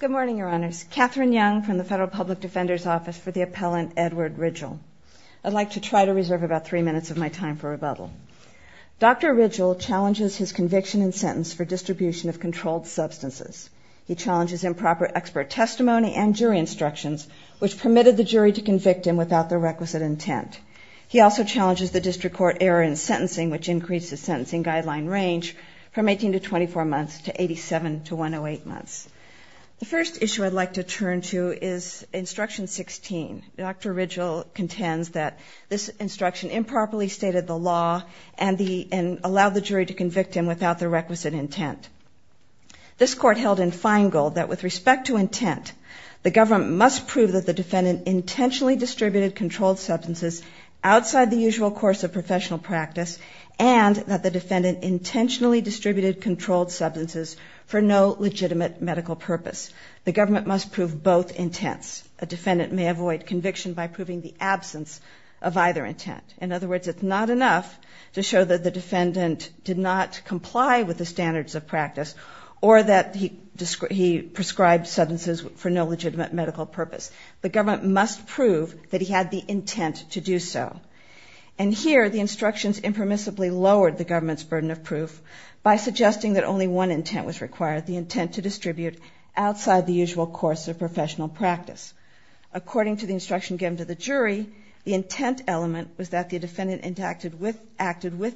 Good morning, Your Honors. Katherine Young from the Federal Public Defender's Office for the Appellant, Edward Ridgill. I'd like to try to reserve about three minutes of my time for rebuttal. Dr. Ridgill challenges his conviction and sentence for distribution of controlled substances. He challenges improper expert testimony and jury instructions, which permitted the jury to convict him without the requisite intent. He also challenges the district court error in sentencing, which increased the sentencing guideline range from eight months. The first issue I'd like to turn to is Instruction 16. Dr. Ridgill contends that this instruction improperly stated the law and allowed the jury to convict him without the requisite intent. This court held in Feingold that with respect to intent, the government must prove that the defendant intentionally distributed controlled substances outside the usual course of professional practice and that the defendant intentionally distributed controlled substances for no legitimate medical purpose. The government must prove both intents. A defendant may avoid conviction by proving the absence of either intent. In other words, it's not enough to show that the defendant did not comply with the standards of practice or that he prescribed substances for no legitimate medical purpose. The government must prove that he had the intent to do so. And here, the instructions impermissibly lowered the guideline, suggesting that only one intent was required, the intent to distribute outside the usual course of professional practice. According to the instruction given to the jury, the intent element was that the defendant acted with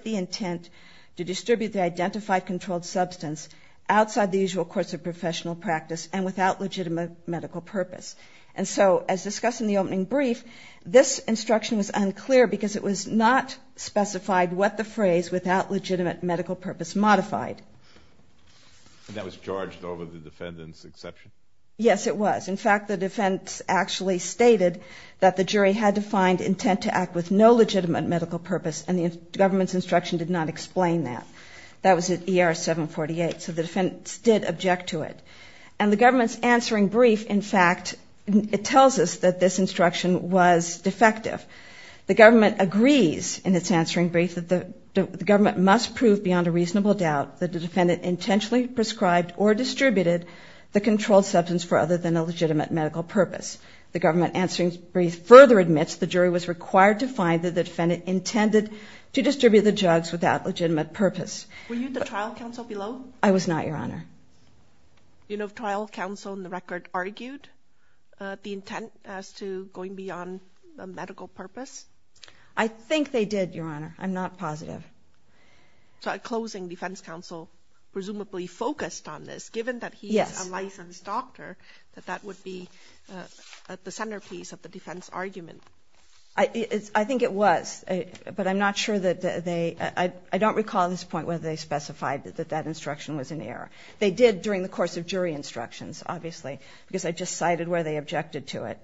the intent to distribute the identified controlled substance outside the usual course of professional practice and without legitimate medical purpose. And so, as discussed in the opening brief, this instruction was unclear because it was not specified what the phrase, without legitimate medical purpose, modified. And that was charged over the defendant's exception? Yes, it was. In fact, the defense actually stated that the jury had defined intent to act with no legitimate medical purpose and the government's instruction did not explain that. That was at ER 748, so the defense did object to it. And the government's answering brief, in fact, it tells us that this instruction was defective. The government agrees in its answering brief that the government must prove beyond a reasonable doubt that the defendant intentionally prescribed or distributed the controlled substance for other than a legitimate medical purpose. The government answering brief further admits the jury was required to find that the defendant intended to distribute the drugs without legitimate purpose. Were you at the trial counsel below? I was not, Your Honor. Do you know if trial counsel in the record argued the intent as to going beyond a medical purpose? I think they did, Your Honor. I'm not positive. So, at closing, defense counsel presumably focused on this, given that he is a licensed doctor, that that would be at the centerpiece of the defense argument. I think it was, but I'm not sure that they – I don't recall at this point whether they specified that that instruction was in error. They did during the course of jury instructions, obviously, because I just cited where they objected to it.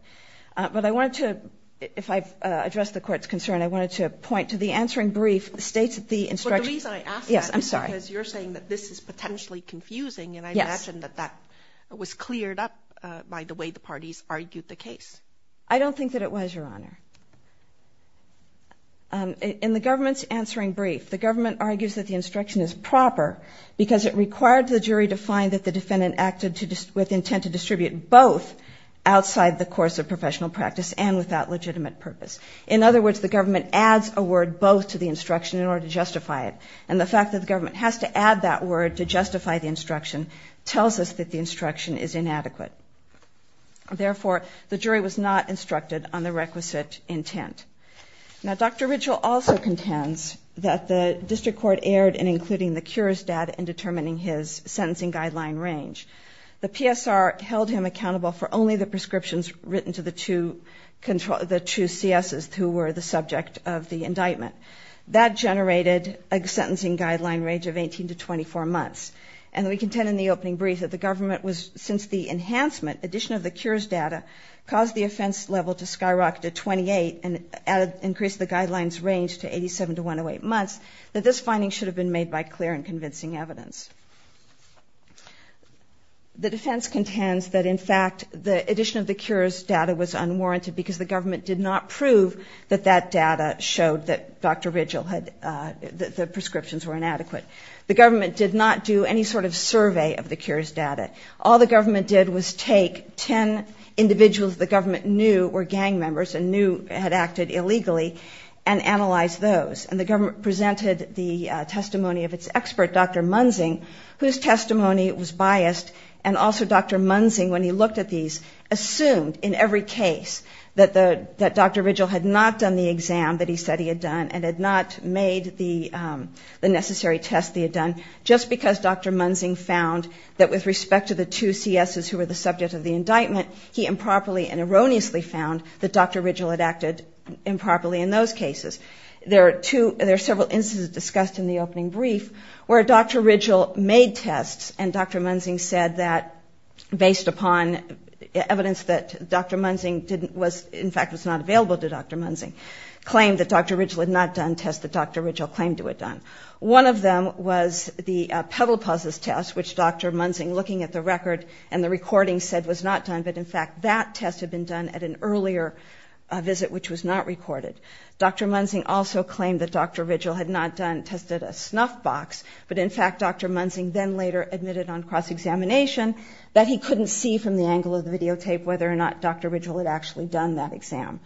But I wanted to – if I address the Court's concern, I wanted to point to the answering brief states that the instruction – But the reason I ask that is because you're saying that this is potentially confusing and I imagine that that was cleared up by the way the parties argued the case. I don't think that it was, Your Honor. In the government's answering brief, the government argues that the instruction is proper because it required the jury to find that the defendant acted with intent to distribute both outside the course of professional practice and without legitimate purpose. In other words, the government adds a word both to the instruction in order to justify it. And the fact that the government has to add that word to justify the instruction tells us that the instruction is inadequate. Therefore, the jury was not instructed on the requisite intent. Now, Dr. Ridgell also contends that the district court erred in including the cures data in determining his sentencing guideline range. The PSR held him accountable for only the prescriptions written to the two CSs who were the subject of the indictment. That generated a sentencing guideline range of 18 to 24 months. And we contend in the opening brief that the government was – since the enhancement, addition of the cures data caused the offense level to skyrocket to 28 and increase the guidelines range to 87 to 108 months, that this finding should have been made by clear and convincing evidence. The defense contends that, in fact, the addition of the cures data was unwarranted because the government did not prove that that data showed that Dr. Ridgell had – that the prescriptions were inadequate. The government did not do any sort of survey of the cures data. All the government did was take 10 individuals the government knew were gang members and knew had acted illegally and analyze those. And the government presented the testimony of its expert, Dr. Munzing, whose testimony was biased. And also Dr. Munzing, when he looked at these, assumed in every case that Dr. Ridgell had not done the exam that he said he had done and had not made the necessary test that he had done just because Dr. Munzing found that with respect to the two C.S.s. who were the subject of the indictment, he improperly and erroneously found that Dr. Ridgell had acted improperly in those cases. There are two – there are several instances discussed in the opening brief where Dr. Ridgell made tests and Dr. Munzing said that, based upon evidence that Dr. Munzing didn't – was – in fact, was not available to Dr. Munzing, claimed that Dr. Ridgell had not done tests that Dr. Ridgell claimed to have done. One of them was the pedal pauses test, which Dr. Munzing, looking at the record and the recording, said was not done. But, in fact, that test had been done at an earlier visit, which was not recorded. Dr. Munzing also claimed that Dr. Ridgell had not done – tested a snuff box. But, in fact, Dr. Munzing then later admitted on cross-examination that he couldn't see from the angle of the videotape whether or not Dr. Ridgell had actually done that exam.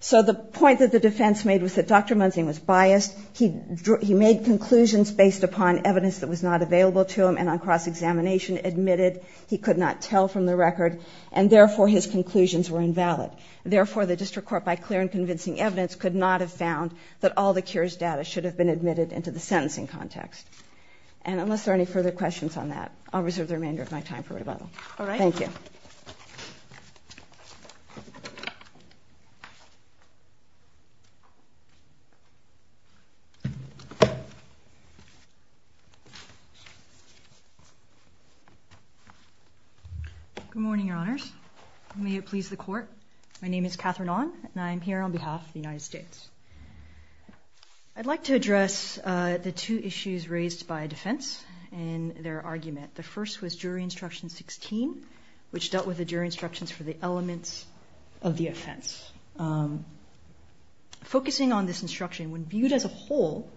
So the point that the defense made was that Dr. Munzing was biased. He made conclusions based upon evidence that was not available to him, and on cross-examination admitted he could not tell from the record, and therefore his conclusions were invalid. Therefore, the district court, by clear and convincing evidence, could not have found that all the cures data should have been admitted into the sentencing context. And unless there are any further questions on that, I'll reserve the remainder of my time for rebuttal. All right. Good morning, Your Honors. May it please the Court. My name is Catherine Onn, and I am here on behalf of the United States. I'd like to address the two issues raised by defense in their argument. The first was Jury Instruction 16, which dealt with the jury instructions for the elements of the offense. Focusing on this instruction, when viewed as a whole,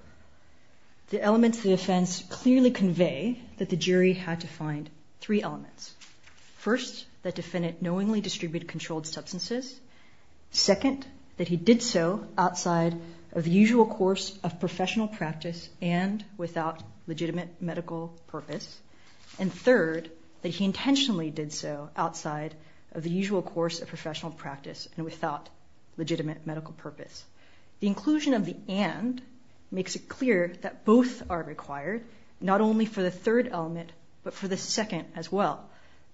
the elements of the offense clearly convey that the jury had to find three elements. First, that defendant knowingly distributed controlled substances. Second, that he did so outside of the usual course of professional practice and without legitimate medical purpose. And third, that he intentionally did so outside of the usual course of professional practice and without legitimate medical purpose. The inclusion of the and makes it clear that both are required, not only for the third element, but for the second as well.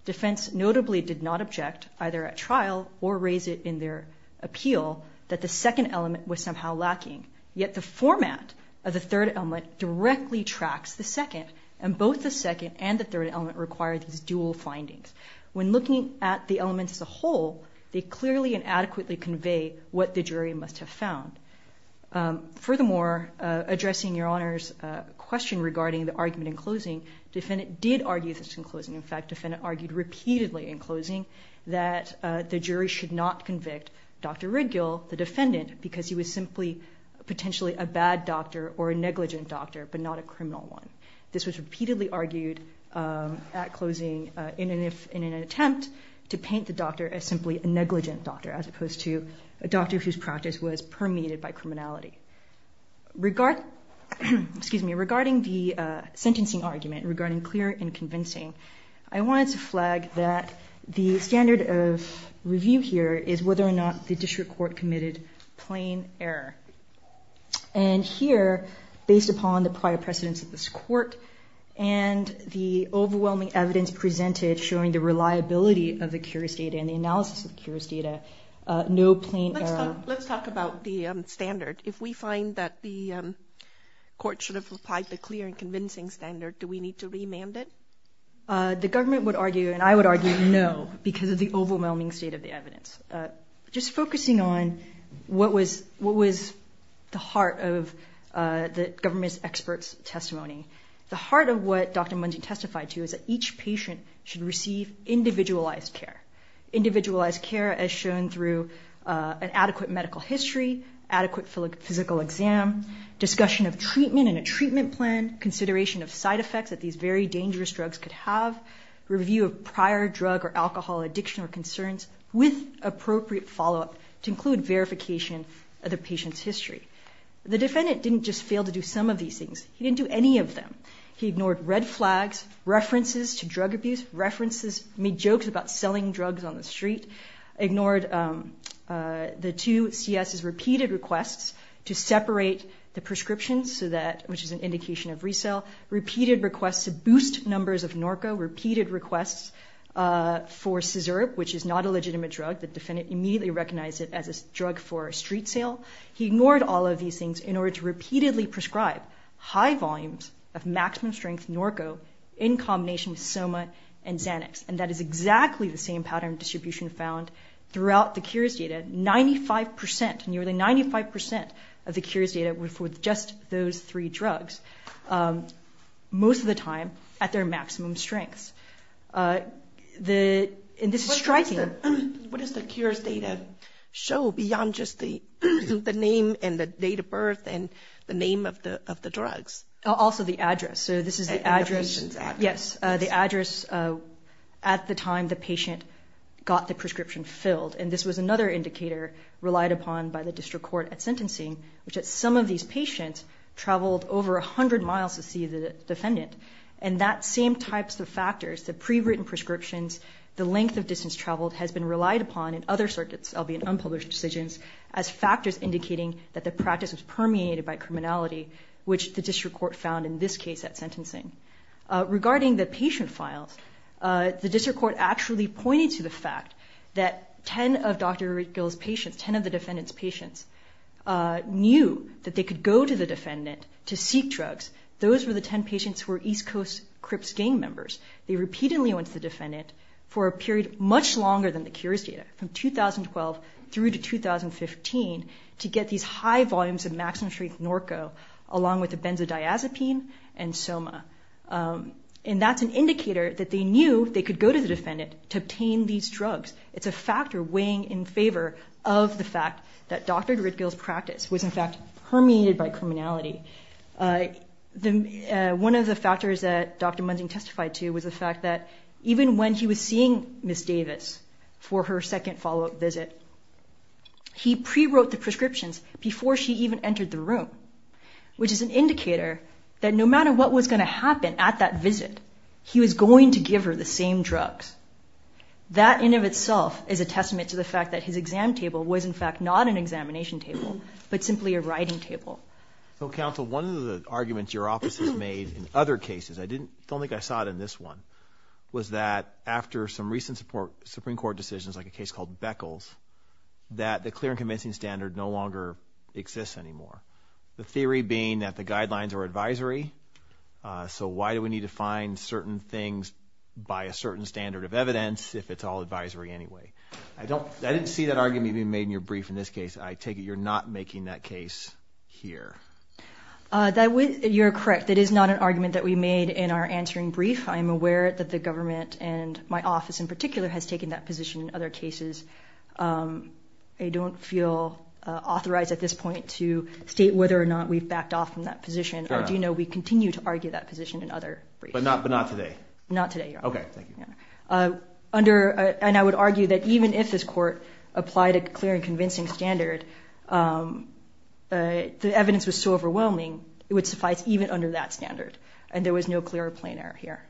Defense notably did not object, either at trial or raise it in their appeal, that the second element was somehow lacking. Yet the format of the third element directly tracks the second, and both the second and the third element require these dual findings. When looking at the elements as a whole, they clearly and adequately convey what the jury must have found. Furthermore, addressing Your Honor's question regarding the argument in closing, the defendant did argue this in closing. In fact, the defendant argued repeatedly in closing that the jury should not convict Dr. Ridgill, the defendant, because he was simply potentially a bad doctor or a negligent doctor, but not a criminal one. This was repeatedly argued at closing in an attempt to paint the doctor as simply a negligent doctor, as opposed to a doctor whose practice was permeated by criminality. Regarding the sentencing argument, regarding clear and convincing, I wanted to flag that the standard of review here is whether or not the evidence is clear. Here, based upon the prior precedence of this court and the overwhelming evidence presented showing the reliability of the curious data and the analysis of the curious data, no plain error. Let's talk about the standard. If we find that the court should have applied the clear and convincing standard, do we need to remand it? The government would argue, and I would argue, no, because of the overwhelming state of the heart of the government's experts' testimony. The heart of what Dr. Mungeon testified to is that each patient should receive individualized care. Individualized care as shown through an adequate medical history, adequate physical exam, discussion of treatment and a treatment plan, consideration of side effects that these very dangerous drugs could have, review of prior drug or alcohol addiction or concerns with appropriate follow-up to include verification of the patient's history. The defendant didn't just fail to do some of these things. He didn't do any of them. He ignored red flags, references to drug abuse, references, made jokes about selling drugs on the street, ignored the two CS's repeated requests to separate the prescriptions, which is an indication of resale, repeated requests to boost numbers of Norco, repeated requests for Cizerp, which is not a legitimate drug. The defendant immediately recognized it as a drug for a street sale. He ignored all of these things in order to repeatedly prescribe high volumes of maximum strength Norco in combination with Soma and Xanax. And that is exactly the same pattern of distribution found throughout the Cures data, 95%, nearly 95% of the Cures data with just those three drugs, most of the time at their maximum strengths. And this is striking. What does the Cures data show beyond just the name and the date of birth and the name of the drugs? Also the address. So this is the address. And the patient's address. Yes, the address at the time the patient got the prescription filled. And this was another indicator relied upon by the district court at sentencing, which at some of these patients traveled over 100 miles to see the defendant. And that same types of factors, the pre-written prescriptions, the length of distance traveled has been relied upon in other circuits, albeit unpublished decisions, as factors indicating that the practice was permeated by criminality, which the district court found in this case at sentencing. Regarding the patient files, the district court actually pointed to the fact that 10 of Dr. Gil's patients, 10 of the defendant's patients, knew that they could go to the defendant to seek drugs. Those were the 10 patients who were East Coast Crips gang members. They repeatedly went to the defendant for a period much longer than the Cures data, from 2012 through to 2015, to get these high volumes of maximum strength Norco along with the benzodiazepine and Soma. And that's an indicator that they knew they could go to the defendant to obtain these drugs, indicating in favor of the fact that Dr. Gil's practice was, in fact, permeated by criminality. One of the factors that Dr. Munzing testified to was the fact that even when he was seeing Ms. Davis for her second follow-up visit, he pre-wrote the prescriptions before she even entered the room, which is an indicator that no matter what was going to happen at that visit, he was going to give her the same drugs. That in and of itself is a testament to the fact that his exam table was, in fact, not an examination table, but simply a writing table. So, Counsel, one of the arguments your office has made in other cases, I don't think I saw it in this one, was that after some recent Supreme Court decisions, like a case called Beckles, that the clear and convincing standard no longer exists anymore. The theory being that the guidelines are advisory, so why do we need to find certain things by a certain standard of evidence if it's all advisory anyway? I don't, I didn't see that argument being made in your brief in this case. I take it you're not making that case here. That, you're correct. That is not an argument that we made in our answering brief. I am aware that the government, and my office in particular, has taken that position in other cases. I don't feel authorized at this point to state whether or not we've backed off from that position. I do know we continue to argue that position in other briefs. But not, but not today? Not today, Your Honor. Okay, thank you. Under, and I would argue that even if this court applied a clear and convincing standard, the evidence was so overwhelming, it would suffice even under that standard, and there was no clear plain error here.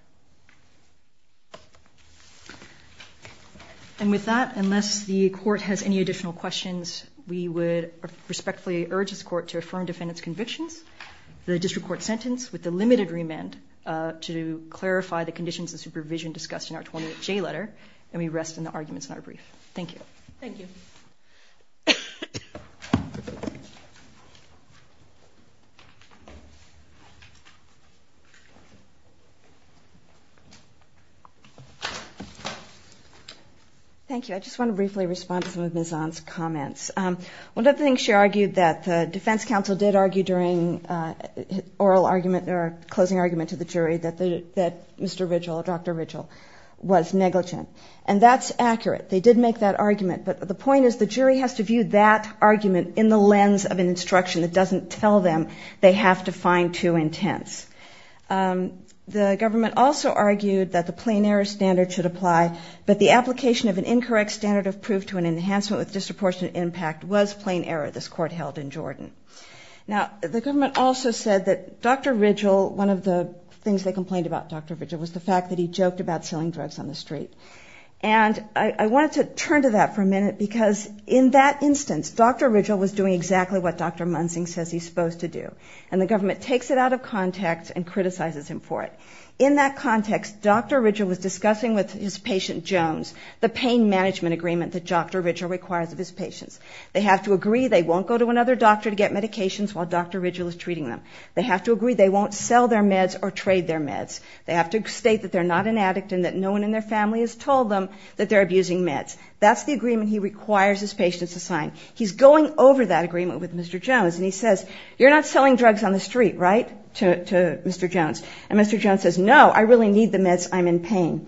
And with that, unless the court has any additional questions, we would respectfully urge this court to affirm defendant's convictions. The district court remand to clarify the conditions of supervision discussed in our 28-J letter, and we rest in the arguments in our brief. Thank you. Thank you. Thank you. I just want to briefly respond to some of Ms. Zahn's comments. One of the things she argued that the defense counsel did argue during oral argument, or closing argument to the jury, that Mr. Ridgell, Dr. Ridgell was negligent. And that's accurate. They did make that argument, but the point is the jury has to view that argument in the lens of an instruction that doesn't tell them they have to find two intents. The government also argued that the plain error standard should apply, but the application of an incorrect standard of proof to an enhancement with disproportionate impact was plain error this court held in Jordan. Now the government also said that Dr. Ridgell, one of the things they complained about Dr. Ridgell was the fact that he joked about selling drugs on the street. And I wanted to turn to that for a minute because in that instance, Dr. Ridgell was doing exactly what Dr. Munzing says he's supposed to do, and the government takes it out of context and criticizes him for it. In that context, Dr. Ridgell was discussing with his pain management agreement that Dr. Ridgell requires of his patients. They have to agree they won't go to another doctor to get medications while Dr. Ridgell is treating them. They have to agree they won't sell their meds or trade their meds. They have to state that they're not an addict and that no one in their family has told them that they're abusing meds. That's the agreement he requires his patients to sign. He's going over that agreement with Mr. Jones, and he says, you're not selling drugs on the street, right, to Mr. Jones. And Mr. Jones says, no, I really need the meds, I'm in pain.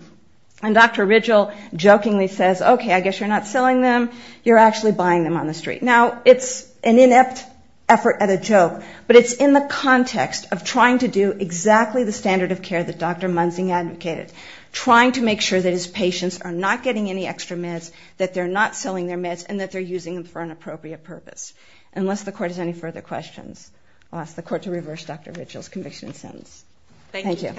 And Dr. Ridgell jokingly says, okay, I guess you're not selling them, you're actually buying them on the street. Now it's an inept effort at a joke, but it's in the context of trying to do exactly the standard of care that Dr. Munzing advocated, trying to make sure that his patients are not getting any extra meds, that they're not selling their meds, and that they're using them for an appropriate purpose. Unless the Court has any further questions, I'll ask the Court to reverse Dr. Ridgell's conviction and sentence. Thank you.